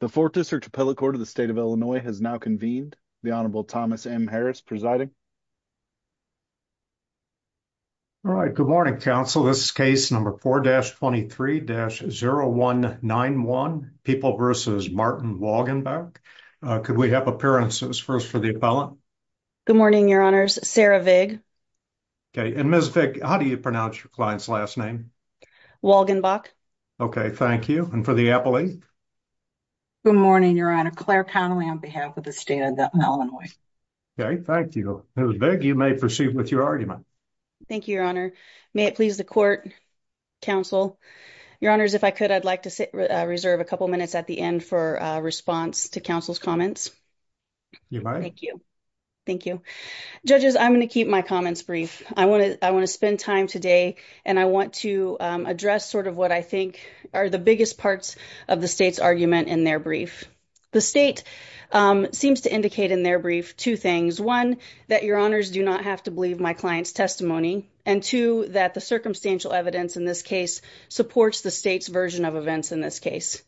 The Fourth District Appellate Court of the State of Illinois has now convened. The Honorable Thomas M. Harris presiding. All right, good morning, counsel. This is case number 4-23-0191, People v. Martin Walgenbach. Could we have appearances first for the appellant? Good morning, Your Honors. Sarah Vig. Okay, and Ms. Vig, how do you pronounce your client's last name? Walgenbach. Okay, thank you. And for the appellate? Good morning, Your Honor. Claire Connelly on behalf of the State of Illinois. Okay, thank you. Ms. Vig, you may proceed with your argument. Thank you, Your Honor. May it please the court, counsel. Your Honors, if I could, I'd like to reserve a couple minutes at the end for a response to counsel's comments. You may. Thank you. Thank you. Judges, I'm going to keep my comments brief. I want to spend time today, and I want to address sort of what I think are the biggest parts of the State's argument in their brief. The State seems to indicate in their brief two things. One, that Your Honors do not have to believe my client's testimony. And two, that the circumstantial evidence in this case supports the State's version of events in this case.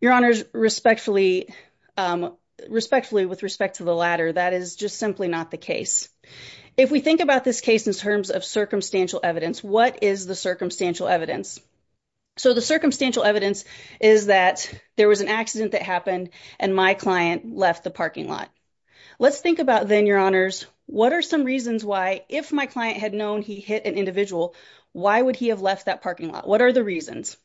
Your Honors, respectfully, with respect to the latter, that is just simply not the case. If we think about this case in terms of circumstantial evidence, what is the circumstantial evidence? So the circumstantial evidence is that there was an accident that happened, and my client left the parking lot. Let's think about then, Your Honors, what are some reasons why, if my client had known he hit an individual, why would he have left that parking lot? What are the reasons?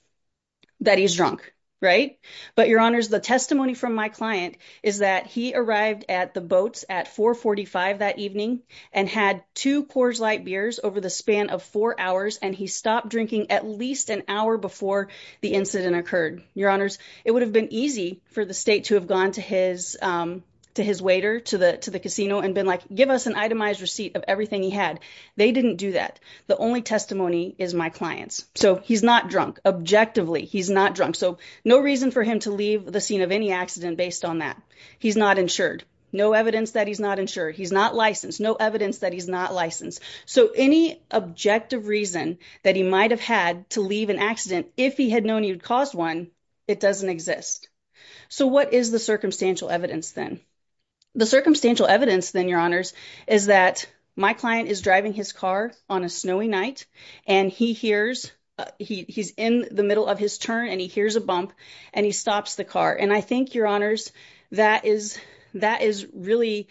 That he's drunk, right? But, Your Honors, the testimony from my client is that he arrived at the boats at 445 that evening, and had two Coors Light beers over the span of four hours, and he stopped drinking at least an hour before the incident occurred. Your Honors, it would have been easy for the State to have gone to his waiter, to the casino, and been like, give us an itemized receipt of everything he had. They didn't do that. The only testimony is my client's. So he's not drunk. Objectively, he's not drunk. So no reason for him to leave the scene of any accident based on that. He's not insured. No evidence that he's not insured. He's not licensed. No evidence that he's not licensed. So any objective reason that he might have had to leave an accident, if he had known he had caused one, it doesn't exist. So what is the circumstantial evidence then? The circumstantial evidence then, Your Honors, is that my client is driving his car on a snowy night, and he hears, he's in the middle of his turn, and he hears a bump, and he stops the car. And I think, Your Honors, that is really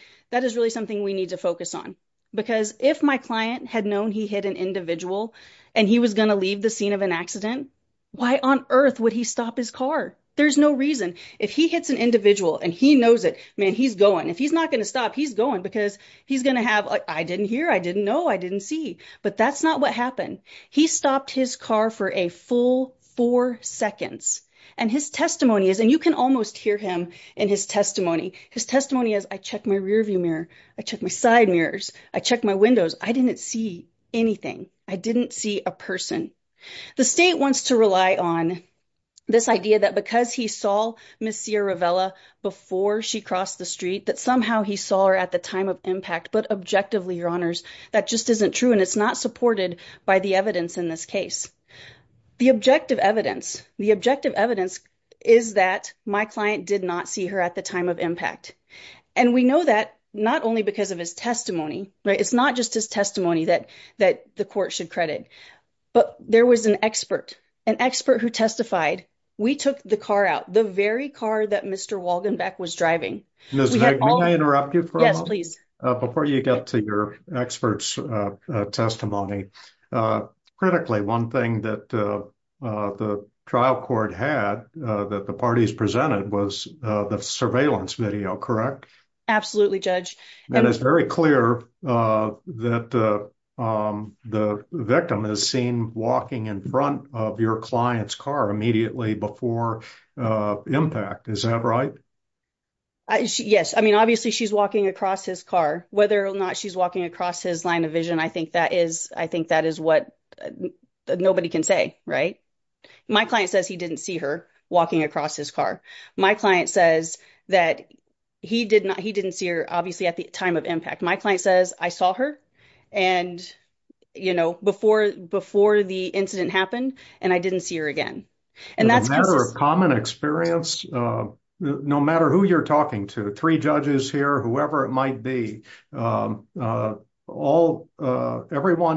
something we need to focus on. Because if my client had known he hit an individual, and he was going to leave the scene of an accident, why on earth would he stop his car? There's no reason. If he hits an individual, and he knows it, man, he's going. If he's not going to stop, he's going, because he's going to have, I didn't hear, I didn't know, I didn't see. But that's not what happened. He stopped his car for a full four seconds. And his testimony is, and you can almost hear him in his testimony. His testimony is, I checked my rearview mirror. I checked my side mirrors. I checked my windows. I didn't see anything. I didn't see a person. The state wants to rely on this idea that because he saw Ms. Sierra Vela before she crossed the street, that somehow he saw her at the time of impact. But objectively, Your Honors, that just isn't true, and it's not supported by the evidence in this case. The objective evidence, the objective evidence is that my client did not see her at the time of impact. And we know that not only because of his testimony. It's not just his testimony that the court should credit. But there was an expert, an expert who testified. We took the car out, the very car that Mr. Walgenbeck was driving. Ms. Vick, may I interrupt you for a moment? Yes, please. Before you get to your expert's testimony, critically, one thing that the trial court had that the parties presented was the surveillance video, correct? Absolutely, Judge. And it's very clear that the victim is seen walking in front of your client's car immediately before impact. Is that right? Yes. I mean, obviously, she's walking across his car. Whether or not she's walking across his line of vision, I think that is what nobody can say, right? My client says he didn't see her walking across his car. My client says that he didn't see her, obviously, at the time of impact. My client says, I saw her and, you know, before the incident happened, and I didn't see her again. No matter who you're talking to, three judges here, whoever it might be, everyone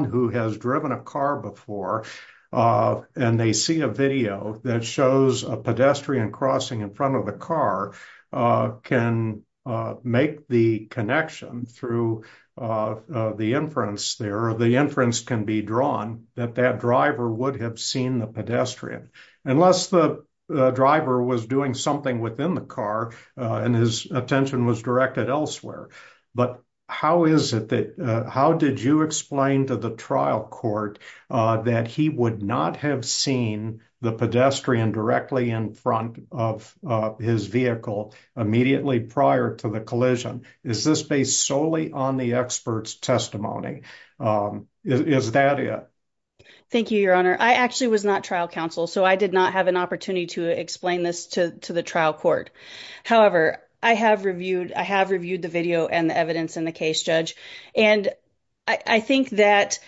who has driven a car before and they see a video that shows a pedestrian crossing in front of a car can make the connection through the inference there. Or the inference can be drawn that that driver would have seen the pedestrian. Unless the driver was doing something within the car and his attention was directed elsewhere. But how is it that, how did you explain to the trial court that he would not have seen the pedestrian directly in front of his vehicle immediately prior to the collision? Is this based solely on the expert's testimony? Is that it? Thank you, Your Honor. I actually was not trial counsel, so I did not have an opportunity to explain this to the trial court. However, I have reviewed the video and the evidence in the case, Judge. And I think that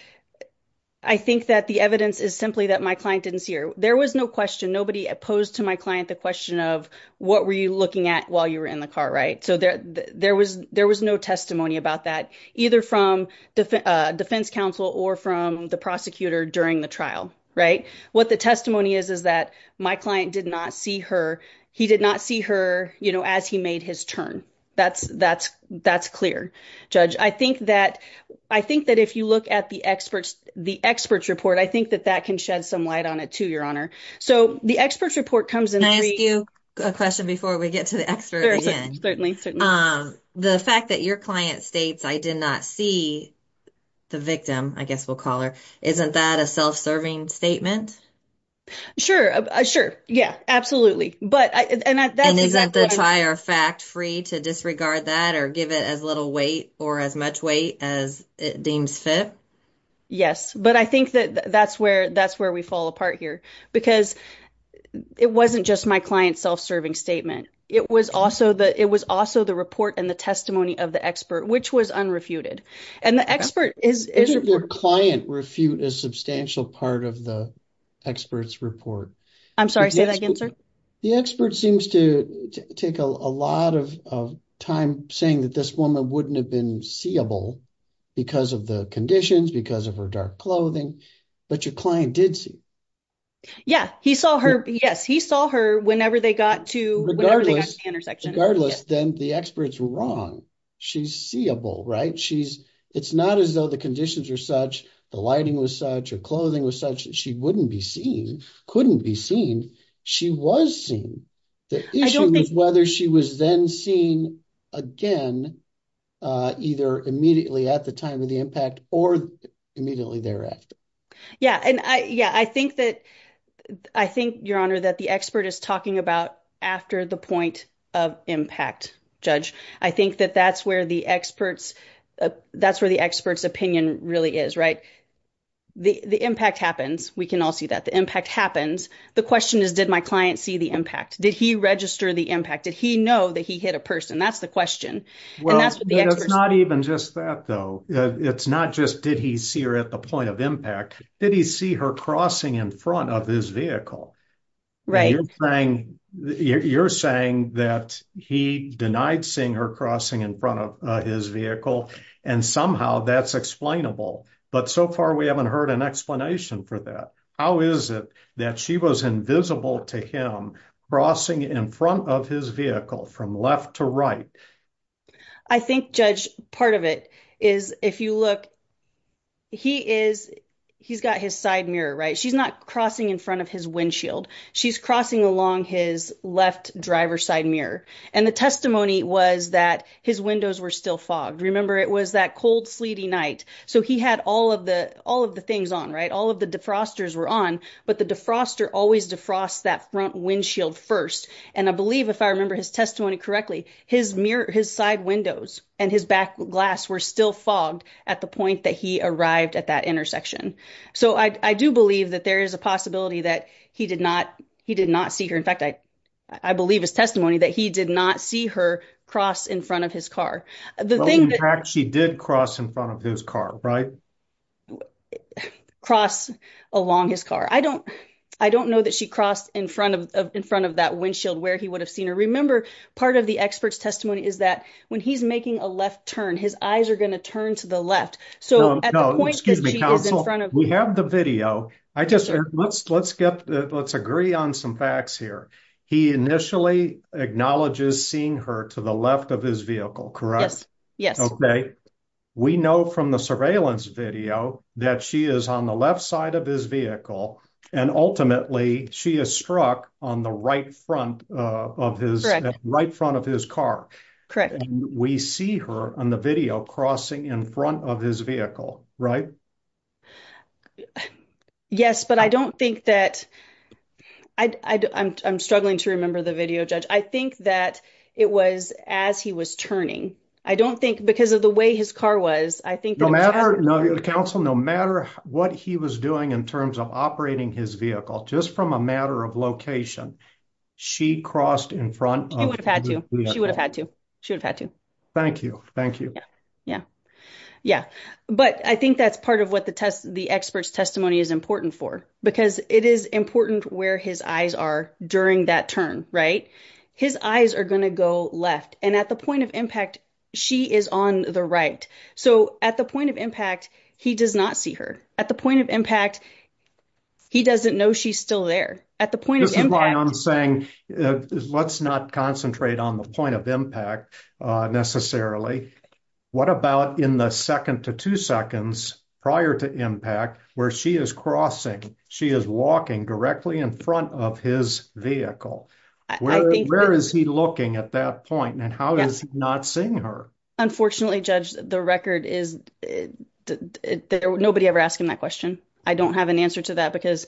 the evidence is simply that my client didn't see her. There was no question. Nobody opposed to my client the question of what were you looking at while you were in the car, right? So there was no testimony about that, either from defense counsel or from the prosecutor during the trial. Right. What the testimony is, is that my client did not see her. He did not see her as he made his turn. That's that's that's clear. Judge, I think that I think that if you look at the experts, the experts report, I think that that can shed some light on it to your honor. So the experts report comes in. I ask you a question before we get to the expert. Certainly, certainly. The fact that your client states, I did not see the victim, I guess we'll call her. Isn't that a self-serving statement? Sure. Sure. Yeah, absolutely. But that is not the prior fact free to disregard that or give it as little weight or as much weight as it deems fit. Yes. But I think that that's where that's where we fall apart here, because it wasn't just my client self-serving statement. It was also the it was also the report and the testimony of the expert, which was unrefuted. And the expert is your client refute a substantial part of the experts report. I'm sorry. Say that again, sir. The expert seems to take a lot of time saying that this woman wouldn't have been seeable because of the conditions, because of her dark clothing. But your client did see. Yeah, he saw her. Yes, he saw her whenever they got to the intersection. Regardless, then the experts were wrong. She's seeable, right? She's it's not as though the conditions are such the lighting was such a clothing was such that she wouldn't be seen, couldn't be seen. She was seen. The issue is whether she was then seen again, either immediately at the time of the impact or immediately thereafter. Yeah. And, yeah, I think that I think, Your Honor, that the expert is talking about after the point of impact. Judge, I think that that's where the experts that's where the experts opinion really is. Right. The impact happens. We can all see that the impact happens. The question is, did my client see the impact? Did he register the impact? Did he know that he hit a person? That's the question. Well, that's not even just that, though. It's not just did he see her at the point of impact? Did he see her crossing in front of his vehicle? Right. You're saying that he denied seeing her crossing in front of his vehicle. And somehow that's explainable. But so far, we haven't heard an explanation for that. How is it that she was invisible to him crossing in front of his vehicle from left to right? I think, Judge, part of it is if you look, he is he's got his side mirror. Right. She's not crossing in front of his windshield. She's crossing along his left driver side mirror. And the testimony was that his windows were still fogged. Remember, it was that cold, sleety night. So he had all of the all of the things on. Right. All of the defrosters were on. But the defroster always defrost that front windshield first. And I believe if I remember his testimony correctly, his mirror, his side windows and his back glass were still fogged at the point that he arrived at that intersection. So I do believe that there is a possibility that he did not he did not see her. In fact, I believe his testimony that he did not see her cross in front of his car. She did cross in front of his car. Right. Cross along his car. I don't I don't know that she crossed in front of in front of that windshield where he would have seen her. Remember, part of the expert's testimony is that when he's making a left turn, his eyes are going to turn to the left. So at the point, excuse me, counsel, we have the video. I just let's let's get let's agree on some facts here. He initially acknowledges seeing her to the left of his vehicle. Correct. Yes. OK. We know from the surveillance video that she is on the left side of his vehicle and ultimately she is struck on the right front of his right front of his car. Correct. We see her on the video crossing in front of his vehicle. Right. Yes, but I don't think that I'm struggling to remember the video, Judge. I think that it was as he was turning. I don't think because of the way his car was, I think no matter the council, no matter what he was doing in terms of operating his vehicle, just from a matter of location, she crossed in front. She would have had to. She would have had to. Thank you. Thank you. Yeah. Yeah. But I think that's part of what the test, the expert's testimony is important for, because it is important where his eyes are during that turn. His eyes are going to go left. And at the point of impact, she is on the right. So at the point of impact, he does not see her at the point of impact. He doesn't know she's still there at the point. I'm saying let's not concentrate on the point of impact necessarily. What about in the second to two seconds prior to impact where she is crossing? She is walking directly in front of his vehicle. Where is he looking at that point? And how is he not seeing her? Unfortunately, Judge, the record is that nobody ever asked him that question. I don't have an answer to that because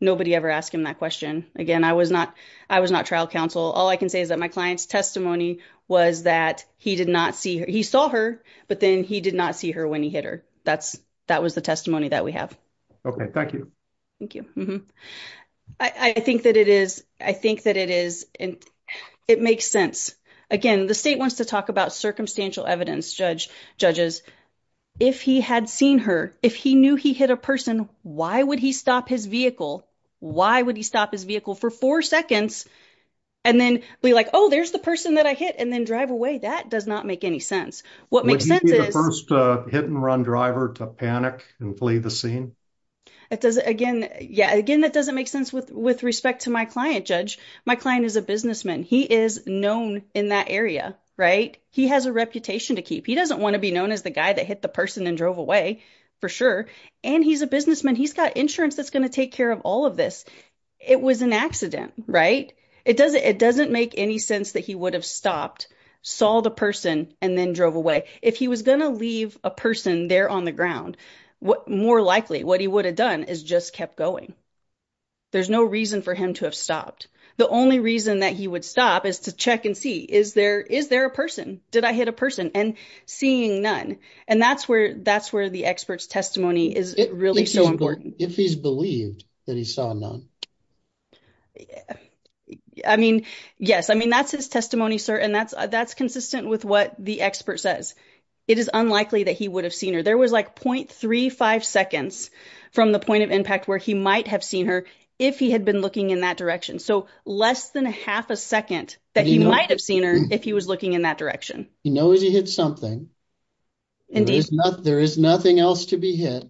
nobody ever asked him that question again. I was not. I was not trial counsel. All I can say is that my client's testimony was that he did not see her. He saw her. But then he did not see her when he hit her. That's that was the testimony that we have. Okay. Thank you. Thank you. I think that it is. I think that it is. And it makes sense. Again, the state wants to talk about circumstantial evidence. Judge judges, if he had seen her, if he knew he hit a person, why would he stop his vehicle? Why would he stop his vehicle for four seconds? And then be like, oh, there's the person that I hit. And then drive away. That does not make any sense. What makes sense is first hit and run driver to panic and flee the scene. It does again. Yeah. Again, that doesn't make sense with respect to my client. Judge, my client is a businessman. He is known in that area. Right. He has a reputation to keep. He doesn't want to be known as the guy that hit the person and drove away for sure. And he's a businessman. He's got insurance that's going to take care of all of this. It was an accident. Right. It doesn't it doesn't make any sense that he would have stopped, saw the person and then drove away. If he was going to leave a person there on the ground, what more likely what he would have done is just kept going. There's no reason for him to have stopped. The only reason that he would stop is to check and see, is there is there a person? Did I hit a person? And seeing none. And that's where that's where the expert's testimony is really so important. If he's believed that he saw none. I mean, yes, I mean, that's his testimony, sir. And that's that's consistent with what the expert says. It is unlikely that he would have seen her. There was like point three, five seconds from the point of impact where he might have seen her if he had been looking in that direction. So less than half a second that he might have seen her if he was looking in that direction. He knows he hit something. There is nothing else to be hit.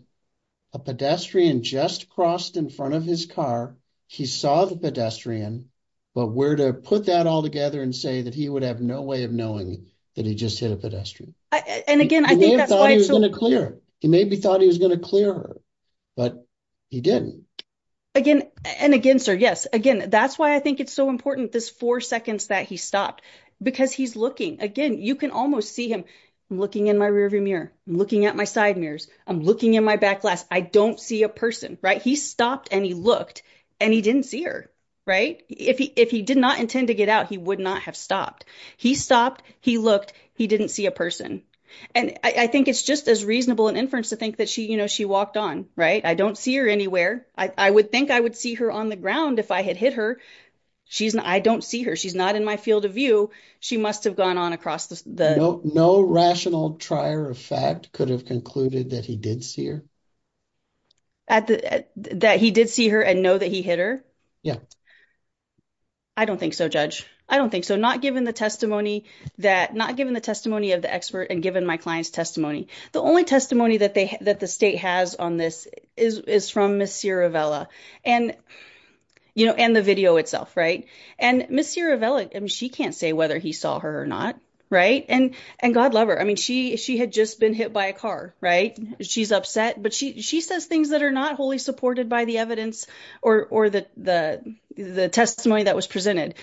A pedestrian just crossed in front of his car. He saw the pedestrian. But where to put that all together and say that he would have no way of knowing that he just hit a pedestrian. And again, I think that's going to clear. He maybe thought he was going to clear. But he didn't. Again and again, sir. Yes. Again, that's why I think it's so important. This four seconds that he stopped because he's looking again. You can almost see him looking in my rearview mirror, looking at my side mirrors. I'm looking in my back glass. I don't see a person. Right. He stopped and he looked and he didn't see her. Right. If he if he did not intend to get out, he would not have stopped. He stopped. He looked. He didn't see a person. And I think it's just as reasonable an inference to think that she, you know, she walked on. Right. I don't see her anywhere. I would think I would see her on the ground if I had hit her. She's not. I don't see her. She's not in my field of view. She must have gone on across the. No rational trier of fact could have concluded that he did see her. That he did see her and know that he hit her. I don't think so. Judge. I don't think so. Not given the testimony that not given the testimony of the expert and given my client's testimony. The only testimony that they that the state has on this is is from Ms. And, you know, and the video itself. And Ms. I mean, she can't say whether he saw her or not. And and God love her. I mean, she she had just been hit by a car. Right. She's upset. But she she says things that are not wholly supported by the evidence or or the the the testimony that was presented.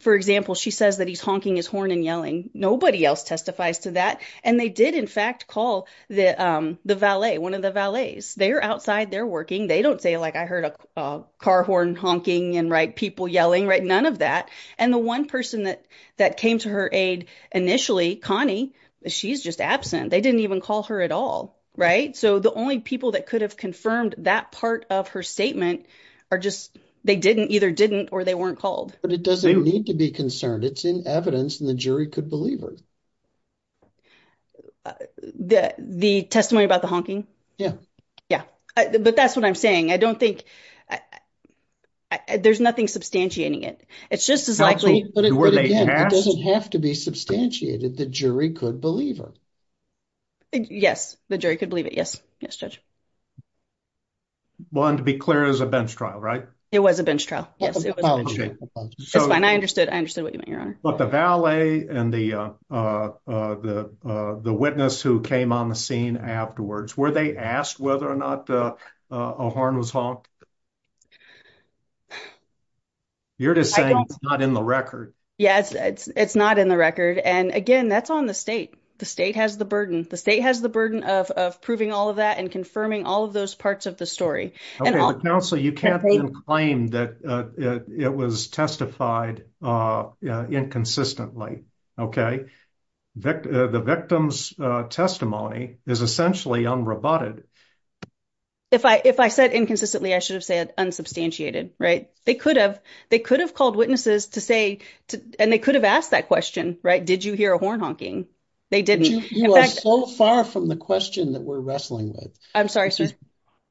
For example, she says that he's honking his horn and yelling. Nobody else testifies to that. And they did, in fact, call the the valet one of the valets. They are outside. They're working. They don't say, like, I heard a car horn honking and write people yelling. Right. None of that. And the one person that that came to her aid initially, Connie, she's just absent. They didn't even call her at all. Right. So the only people that could have confirmed that part of her statement are just they didn't either didn't or they weren't called. But it doesn't need to be concerned. It's in evidence. And the jury could believe her. The testimony about the honking. Yeah. But that's what I'm saying. I don't think there's nothing substantiating it. It's just as likely. It doesn't have to be substantiated. The jury could believe her. Yes. The jury could believe it. Yes. One, to be clear, is a bench trial, right? It was a bench trial. Yes. It's fine. I understood. I understood what you mean. But the valet and the the witness who came on the scene afterwards, where they asked whether or not a horn was honked. You're just saying it's not in the record. Yes, it's not in the record. And again, that's on the state. The state has the burden. The state has the burden of proving all of that and confirming all of those parts of the story. Counsel, you can't claim that it was testified inconsistently. The victim's testimony is essentially unroboted. If I if I said inconsistently, I should have said unsubstantiated. They could have. They could have called witnesses to say, and they could have asked that question. Right. Did you hear a horn honking? They didn't. You are so far from the question that we're wrestling with. I'm sorry.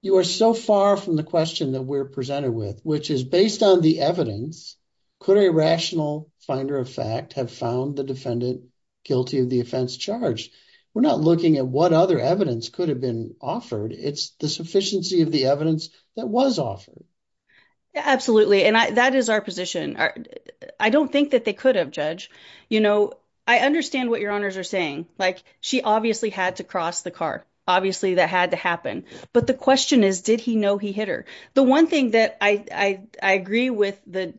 You are so far from the question that we're presented with, which is based on the evidence. Could a rational finder of fact have found the defendant guilty of the offense charge? We're not looking at what other evidence could have been offered. It's the sufficiency of the evidence that was offered. Absolutely. And that is our position. I don't think that they could have, Judge. You know, I understand what your honors are saying. Like, she obviously had to cross the car. Obviously, that had to happen. But the question is, did he know he hit her? The one thing that I agree with the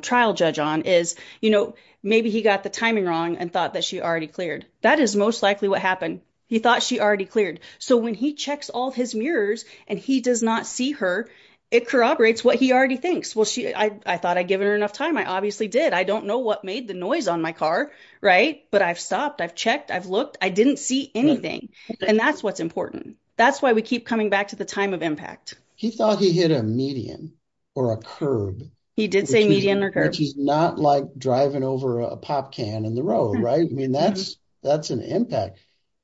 trial judge on is, you know, maybe he got the timing wrong and thought that she already cleared. That is most likely what happened. He thought she already cleared. So when he checks all his mirrors and he does not see her, it corroborates what he already thinks. Well, I thought I'd given her enough time. I obviously did. I don't know what made the noise on my car. Right. But I've stopped. I've checked. I've looked. I didn't see anything. And that's what's important. That's why we keep coming back to the time of impact. He thought he hit a median or a curb. He did say median or curb. Which is not like driving over a pop can in the road, right? I mean, that's an impact.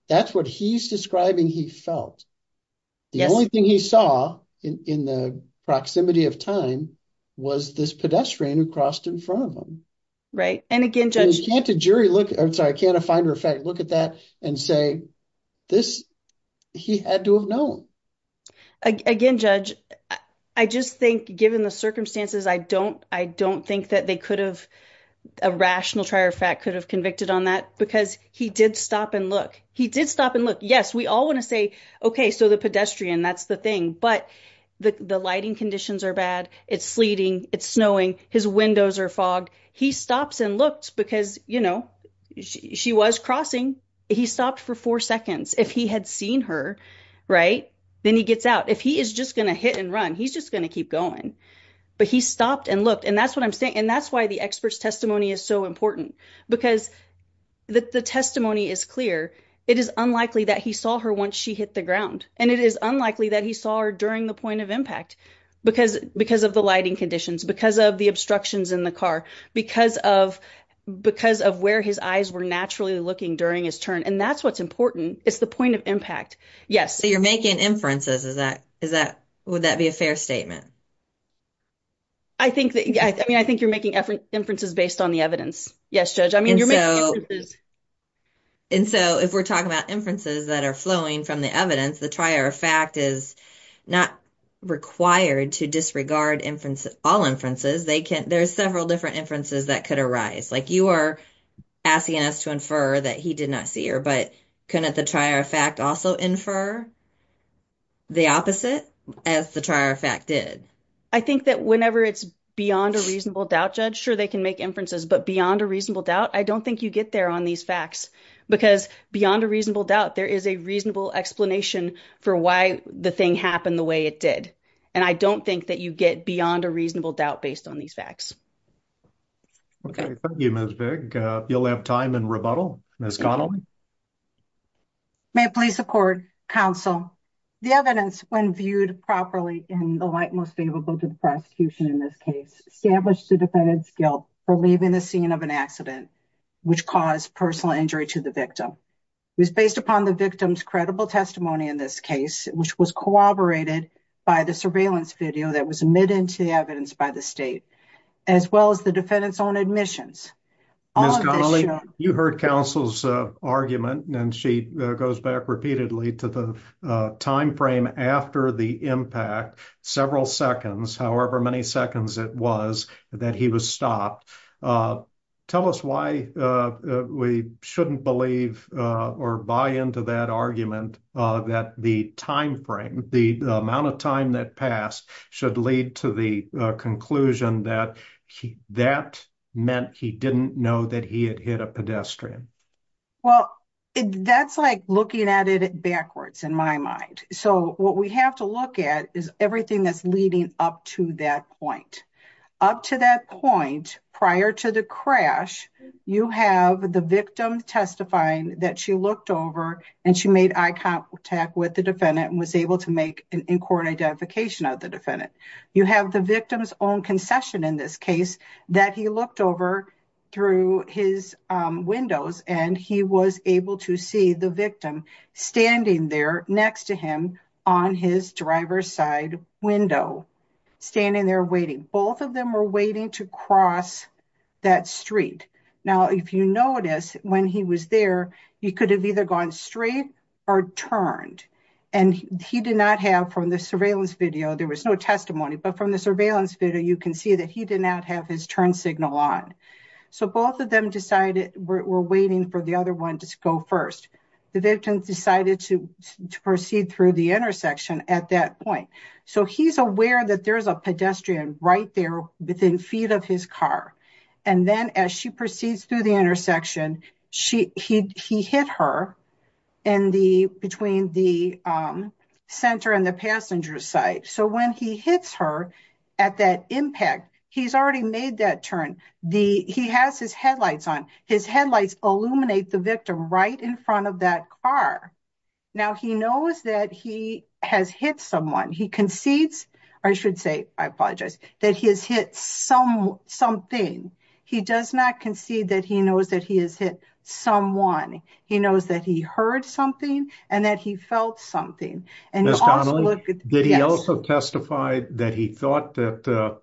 That's what he's describing he felt. The only thing he saw in the proximity of time was this pedestrian who crossed in front of him. Right. And again, judge. You can't a jury look, I'm sorry, can't a finder of fact look at that and say this, he had to have known. Again, judge, I just think given the circumstances, I don't think that they could have, a rational trier of fact, could have convicted on that. Because he did stop and look. He did stop and look. Yes, we all want to say, okay, so the pedestrian, that's the thing. But the lighting conditions are bad. It's sleeting. It's snowing. His windows are fogged. He stops and looks because, you know, she was crossing. He stopped for four seconds. If he had seen her, right, then he gets out. If he is just going to hit and run, he's just going to keep going. But he stopped and looked. And that's what I'm saying. And that's why the expert's testimony is so important. Because the testimony is clear. It is unlikely that he saw her once she hit the ground. And it is unlikely that he saw her during the point of impact. Because of the lighting conditions. Because of the obstructions in the car. Because of where his eyes were naturally looking during his turn. And that's what's important. It's the point of impact. So you're making inferences. Would that be a fair statement? I think you're making inferences based on the evidence. Yes, Judge. I mean, you're making inferences. And so, if we're talking about inferences that are flowing from the evidence, the trier of fact is not required to disregard all inferences. There's several different inferences that could arise. Like, you are asking us to infer that he did not see her. But couldn't the trier of fact also infer the opposite, as the trier of fact did? I think that whenever it's beyond a reasonable doubt, Judge, sure, they can make inferences. But beyond a reasonable doubt, I don't think you get there on these facts. Because beyond a reasonable doubt, there is a reasonable explanation for why the thing happened the way it did. And I don't think that you get beyond a reasonable doubt based on these facts. Okay. Thank you, Ms. Vick. You'll have time in rebuttal. Ms. Connelly? May it please the Court, Counsel, the evidence when viewed properly in the light most favorable to the scene of an accident which caused personal injury to the victim. It was based upon the victim's credible testimony in this case, which was corroborated by the surveillance video that was omitted into the evidence by the State, as well as the defendant's own admissions. Ms. Connelly, you heard Counsel's argument, and she goes back repeatedly to the timeframe after the impact, several seconds, however many seconds it was, that he was stopped. Tell us why we shouldn't believe or buy into that argument that the timeframe, the amount of time that passed, should lead to the conclusion that that meant he didn't know that he had hit a pedestrian. Well, that's like looking at it backwards, in my mind. So what we have to look at is everything that's leading up to that point. Up to that point, prior to the crash, you have the victim testifying that she looked over and she made eye contact with the defendant and was able to make an in-court identification of the You have the victim's own concession in this case that he looked over through his windows and he was able to see the victim standing there next to him on his driver's side window, standing there waiting. Both of them were waiting to cross that street. Now, if you notice when he was there, he could have either gone straight or turned and he did not have from the surveillance video, there was no testimony, but from the surveillance video you can see that he did not have his turn signal on. So both of them decided we're waiting for the other one to go first. The victim decided to proceed through the intersection at that point. So he's aware that there's a pedestrian right there within feet of his car. And then as she proceeds through the intersection, he hit her between the center and the passenger side. So when he hits her at that impact, he's already made that turn. He has his headlights on. His headlights illuminate the victim right in front of that car. Now he knows that he has hit someone. He concedes, I should say, I apologize that he has hit some, something. He does not concede that he knows that he has hit someone. He knows that he heard something and that he felt something. Did he also testify that he thought that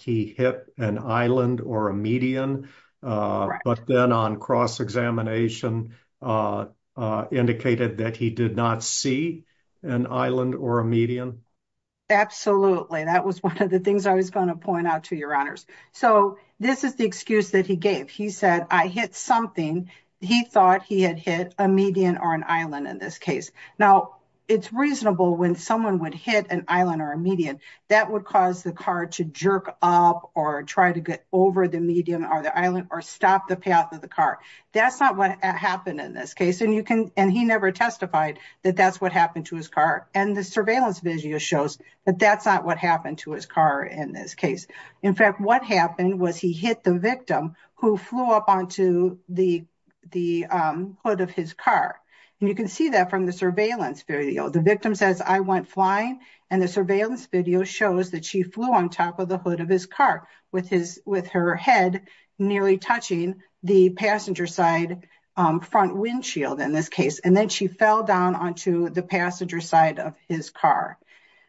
he hit an Island or a median, but then on cross-examination indicated that he did not see an Island or a median? Absolutely. That was one of the things I was going to point out to your honors. So this is the excuse that he gave. He said, I hit something. He thought he had hit a median or an Island in this case. Now it's reasonable when someone would hit an Island or a median that would cause the car to jerk up or try to get over the median or the Island or stop the path of the car. That's not what happened in this case. And you can, And he never testified that that's what happened to his car. And the surveillance video shows that that's not what happened to his car in this case. In fact, what happened was he hit the victim who flew up onto the, the hood of his car. And you can see that from the surveillance video, the victim says, I went flying. And the surveillance video shows that she flew on top of the hood of his car with his, with her head, Nearly touching the passenger side front windshield in this case. And then she fell down onto the passenger side of his car.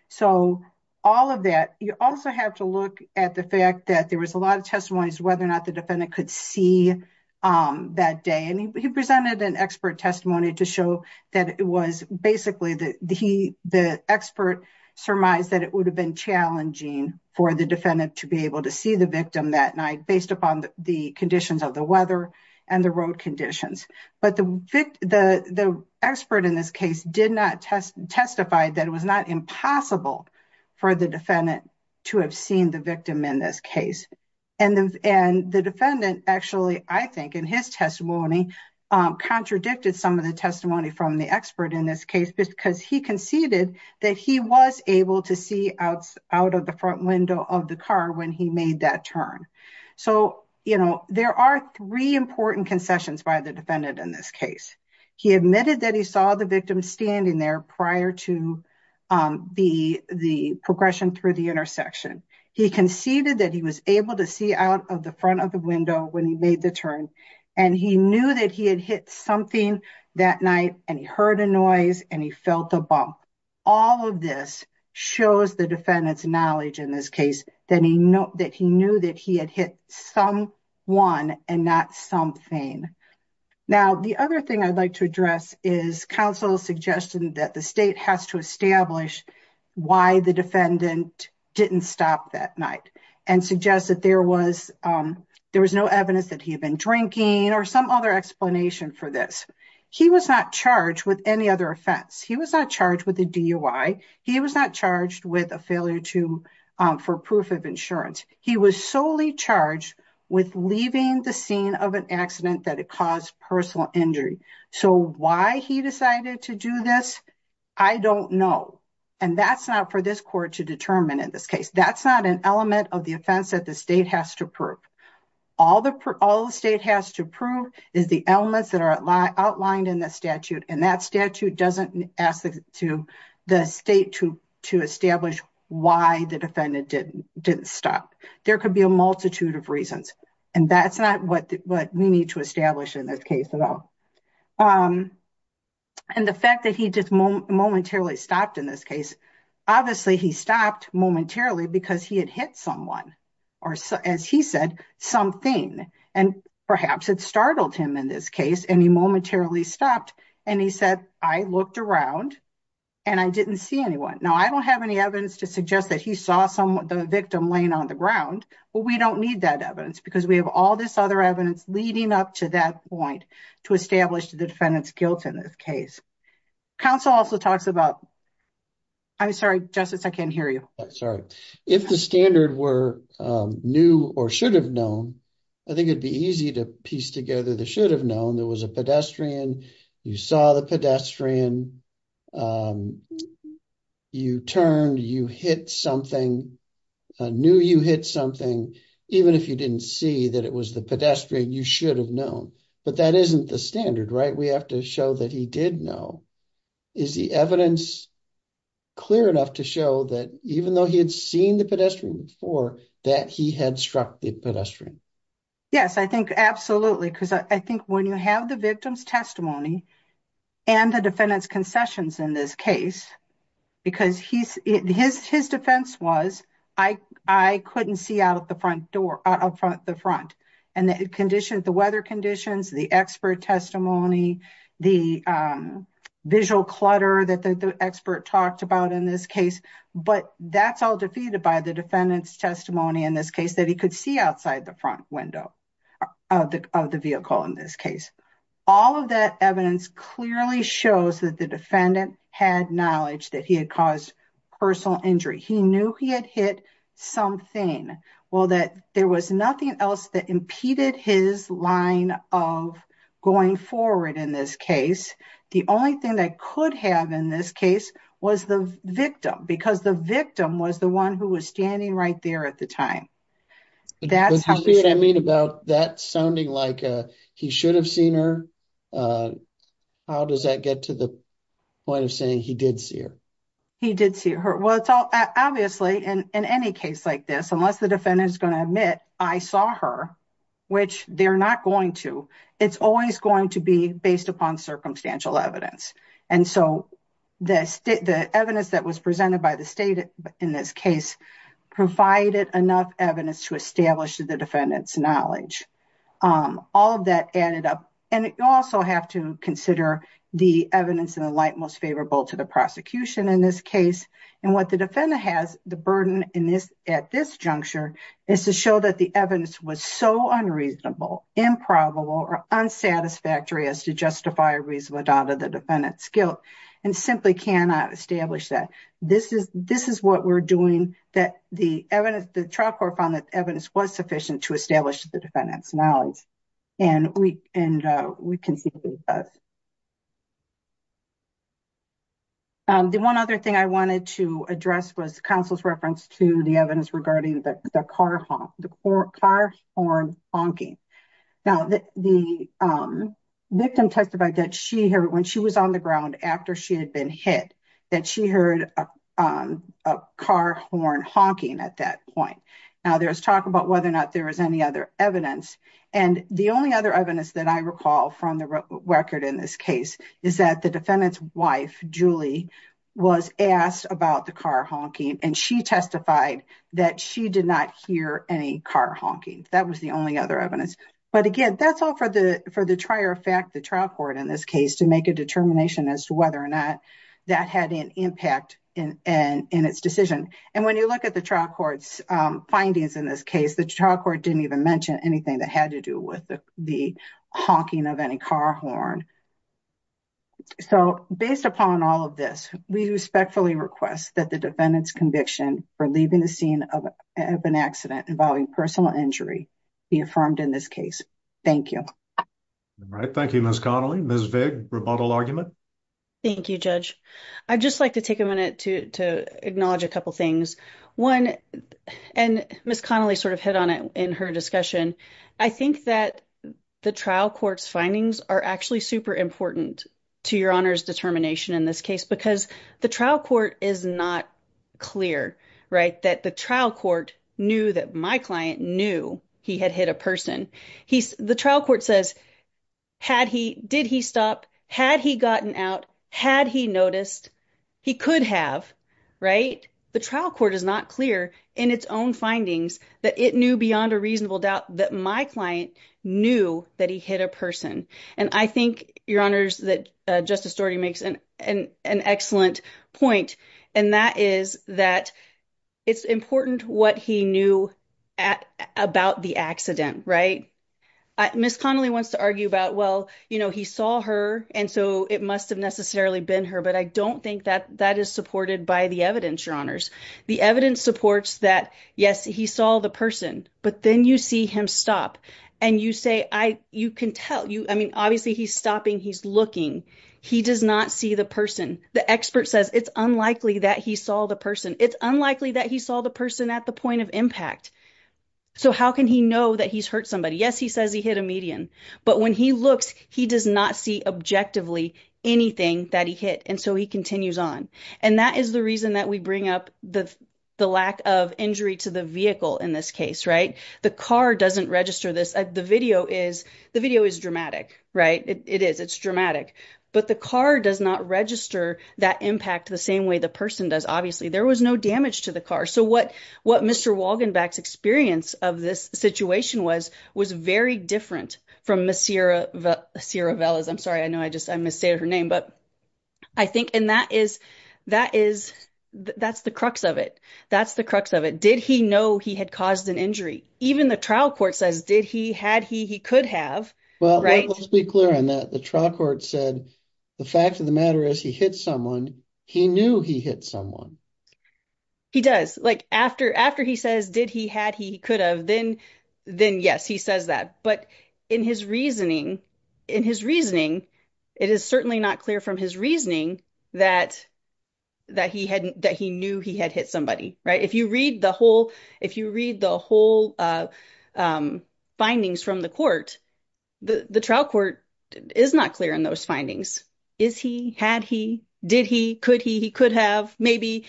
So all of that, you also have to look at the fact that there was a lot of testimonies, whether or not the defendant could see that day. And he presented an expert testimony to show that it was basically the, the he, the expert surmised that it would have been challenging for the defendant to be able to see the victim that night based upon the conditions of the weather and the road conditions. But the, the, the expert in this case did not test testify that it was not impossible for the defendant. To have seen the victim in this case. And the, and the defendant actually, I think in his testimony contradicted some of the testimony from the expert in this case, because he conceded that he was able to see outs out of the front window of the car when he made that turn. So, you know, there are three important concessions by the defendant in this case, he admitted that he saw the victim standing there prior to the, the progression through the intersection. He conceded that he was able to see out of the front of the window when he made the turn. And he knew that he had hit something that night and he heard a noise and he felt a bump. All of this shows the defendant's knowledge in this case, then he knows that he knew that he had hit some one and not something. Now, the other thing I'd like to address is counsel suggested that the state has to establish why the defendant didn't stop that night and suggest that there was there was no evidence that he had been drinking or some other explanation for this. He was not charged with any other offense. He was not charged with a DUI. He was not charged with a failure to for proof of insurance. He was solely charged with leaving the scene of an accident that it caused personal injury. So why he decided to do this, I don't know. And that's not for this court to determine in this case, that's not an element of the offense that the state has to prove. All the, all the state has to prove is the elements that are outlined in the statute. And that statute doesn't ask to the state to, to establish why the defendant didn't didn't stop. There could be a multitude of reasons. And that's not what we need to establish in this case at all. And the fact that he just momentarily stopped in this case, obviously he stopped momentarily because he had hit someone or as he said, something, and perhaps it startled him in this case. And he momentarily stopped and he said, I looked around and I didn't see anyone. Now I don't have any evidence to suggest that he saw some of the victim laying on the ground, but we don't need that evidence because we have all this other evidence leading up to that point to establish the defendant's guilt in this case. Counsel also talks about, I'm sorry, justice. I can't hear you. Sorry. If the standard were new or should have known, I think it'd be easy to piece together. The should have known. There was a pedestrian. You saw the pedestrian. You turned, you hit something, knew you hit something. Even if you didn't see that it was the pedestrian, you should have known, but that isn't the standard, right? We have to show that he did know. Is the evidence clear enough to show that even though he had seen the pedestrian before that he had struck the pedestrian? Yes, I think absolutely. Because I think when you have the victim's testimony and the defendant's concessions in this case, because he's, his, his defense was I couldn't see out of the front door, out front the front and the condition, the weather conditions, the expert testimony, the visual clutter that the expert talked about in this case, but that's all defeated by the defendant's testimony in this case that he could see outside the front window of the, of the vehicle. In this case, all of that evidence clearly shows that the defendant had knowledge that he had caused personal injury. He knew he had hit something. Well that there was nothing else that impeded his line of going forward in this case. The only thing that could have in this case was the victim because the victim was the one who was standing right there at the time. That's what I mean about that sounding like he should have seen her. How does that get to the point of saying he did see her? He did see her. Well, it's all obviously in any case like this, unless the defendant is going to admit, I saw her, which they're not going to, it's always going to be based upon circumstantial evidence. And so the state, the evidence that was presented by the state in this case provided enough evidence to establish the defendant's knowledge. All of that added up. And you also have to consider the evidence in the light most favorable to the prosecution in this case. And what the defendant has, the burden in this at this juncture is to show that the evidence was so unreasonable, improbable, or unsatisfactory as to justify a reasonable doubt of the defendant's guilt and simply cannot establish that this is, this is what we're doing, that the evidence, the trial court found that evidence was sufficient to establish the defendant's knowledge. And we, and we can see what it does. The one other thing I wanted to address was counsel's reference to the evidence regarding the car honk, the car horn honking. Now the victim testified that she heard when she was on the ground after she had been hit that she heard a car horn honking at that point. Now there was talk about whether or not there was any other evidence. And the only other evidence that I recall from the record in this case is that the defendant's wife, Julie was asked about the car honking and she testified that she did not hear any car honking. That was the only other evidence. But again, that's all for the, for the trier fact, the trial court in this case to make a determination as to whether or not that had an impact in, in, in its decision. And when you look at the trial court's findings in this case, the trial court didn't even mention anything that had to do with the, the honking of any car horn. So based upon all of this, we respectfully request that the defendant's conviction for leaving the scene of an accident involving personal injury be affirmed in this case. Thank you. Right. Thank you, Ms. Connelly. Ms. Vig, rebuttal argument. Thank you, judge. I'd just like to take a minute to, to acknowledge a couple of things. One, and Ms. Connelly sort of hit on it in her discussion. I think that the trial court's findings are actually super important to your honor's determination in this case, because the trial court is not clear, right? That the trial court knew that my client knew he had hit a person. He's the trial court says, had he, did he stop? Had he gotten out? Had he noticed he could have, right? The trial court is not clear in its own findings that it knew beyond a reasonable doubt that my client knew that he hit a person. And I think your honors that justice Doherty makes an, an, an excellent point. And that is that it's important what he knew at about the accident, right? Ms. Connelly wants to argue about, well, you know, he saw her. And so it must've necessarily been her, but I don't think that that is supported by the evidence. Your honors, the evidence supports that. Yes, he saw the person, but then you see him stop and you say, I, you can tell you, I mean, obviously he's stopping. He's looking. He does not see the person. The expert says it's unlikely that he saw the person. It's unlikely that he saw the person at the point of impact. So how can he know that he's hurt somebody? Yes. He says he hit a median, but when he looks, he does not see objectively anything that he hit. And so he continues on. And that is the reason that we bring up the, the lack of injury to the vehicle in this case, right? The car doesn't register this. The video is the video is dramatic, right? It is it's dramatic, but the car does not register that impact the same way the person does. Obviously there was no damage to the car. So what, what Mr. Walgenbach's experience of this situation was, was very different from Ms. Sierra, Sierra Velas. I'm sorry. I know. I just, I misstated her name, but I think, and that is, that is, that's the crux of it. That's the crux of it. Did he know he had caused an injury? Even the trial court says, did he, had he, he could have, right? Let's be clear on that. The trial court said, the fact of the matter is he hit someone. He knew he hit someone. He does like after, after he says, did he had, he could have then, then yes, he says that, but in his reasoning, in his reasoning, it is certainly not clear from his reasoning that, that he hadn't, that he knew he had hit somebody, right? If you read the whole, if you read the whole findings from the court, the trial court is not clear in those findings. Is he, had he, did he, could he, he could have maybe,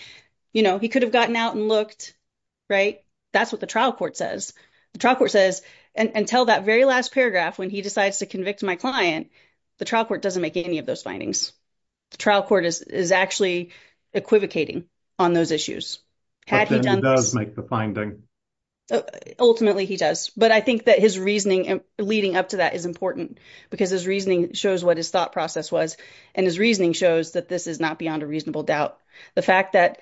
you know, he could have gotten out and looked, right? That's what the trial court says. The trial court says, and tell that very last paragraph, when he decides to convict my client, the trial court doesn't make any of those findings. The trial court is actually equivocating on those issues. Had he done this. But then he does make the finding. Ultimately he does. But I think that his reasoning leading up to that is important because his reasoning shows what his thought process was. And his reasoning shows that this is not beyond a reasonable doubt. The fact that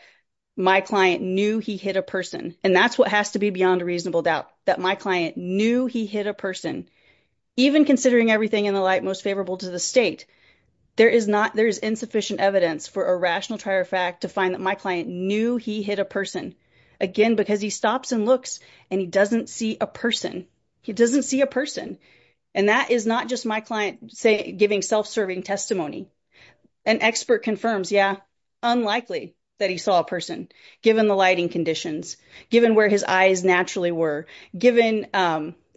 my client knew he hit a person and that's what has to be beyond a reasonable doubt that my client knew he hit a person, even considering everything in the light, most favorable to the state. There is not, there is insufficient evidence for a rational trial fact to find that my client knew he hit a person again, because he stops and looks and he doesn't see a person. He doesn't see a person. And that is not just my client say giving self-serving testimony and expert confirms. Yeah. Unlikely that he saw a person given the lighting conditions, given where his eyes naturally were given the,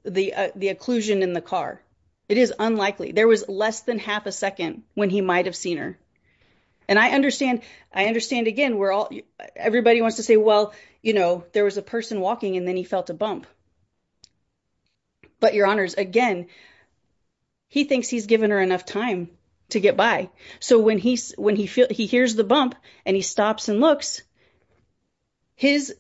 the occlusion in the car, it is unlikely. There was less than half a second when he might've seen her. And I understand, I understand again, we're all, everybody wants to say, well, you know, there was a person walking and then he felt a bump, but your honors, again, he thinks he's given her enough time to get by. So when he, when he feels he hears the bump and he stops and looks his,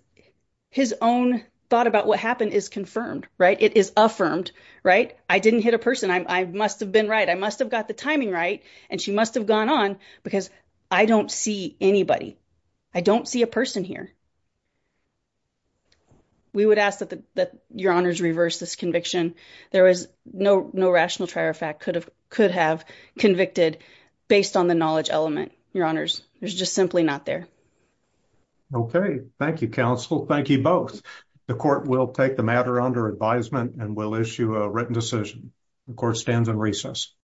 his own thought about what happened is confirmed, right? It is affirmed, right? I didn't hit a person. I must've been right. I must've got the timing right. And she must've gone on because I don't see anybody. I don't see a person here. We would ask that the, that your honors reverse this conviction. There was no, no rational trier fact could have, could have convicted based on the knowledge element, your honors. There's just simply not there. Okay. Thank you. Counsel. Thank you both. The court will take the matter under advisement and we'll issue a written decision. The court stands in recess.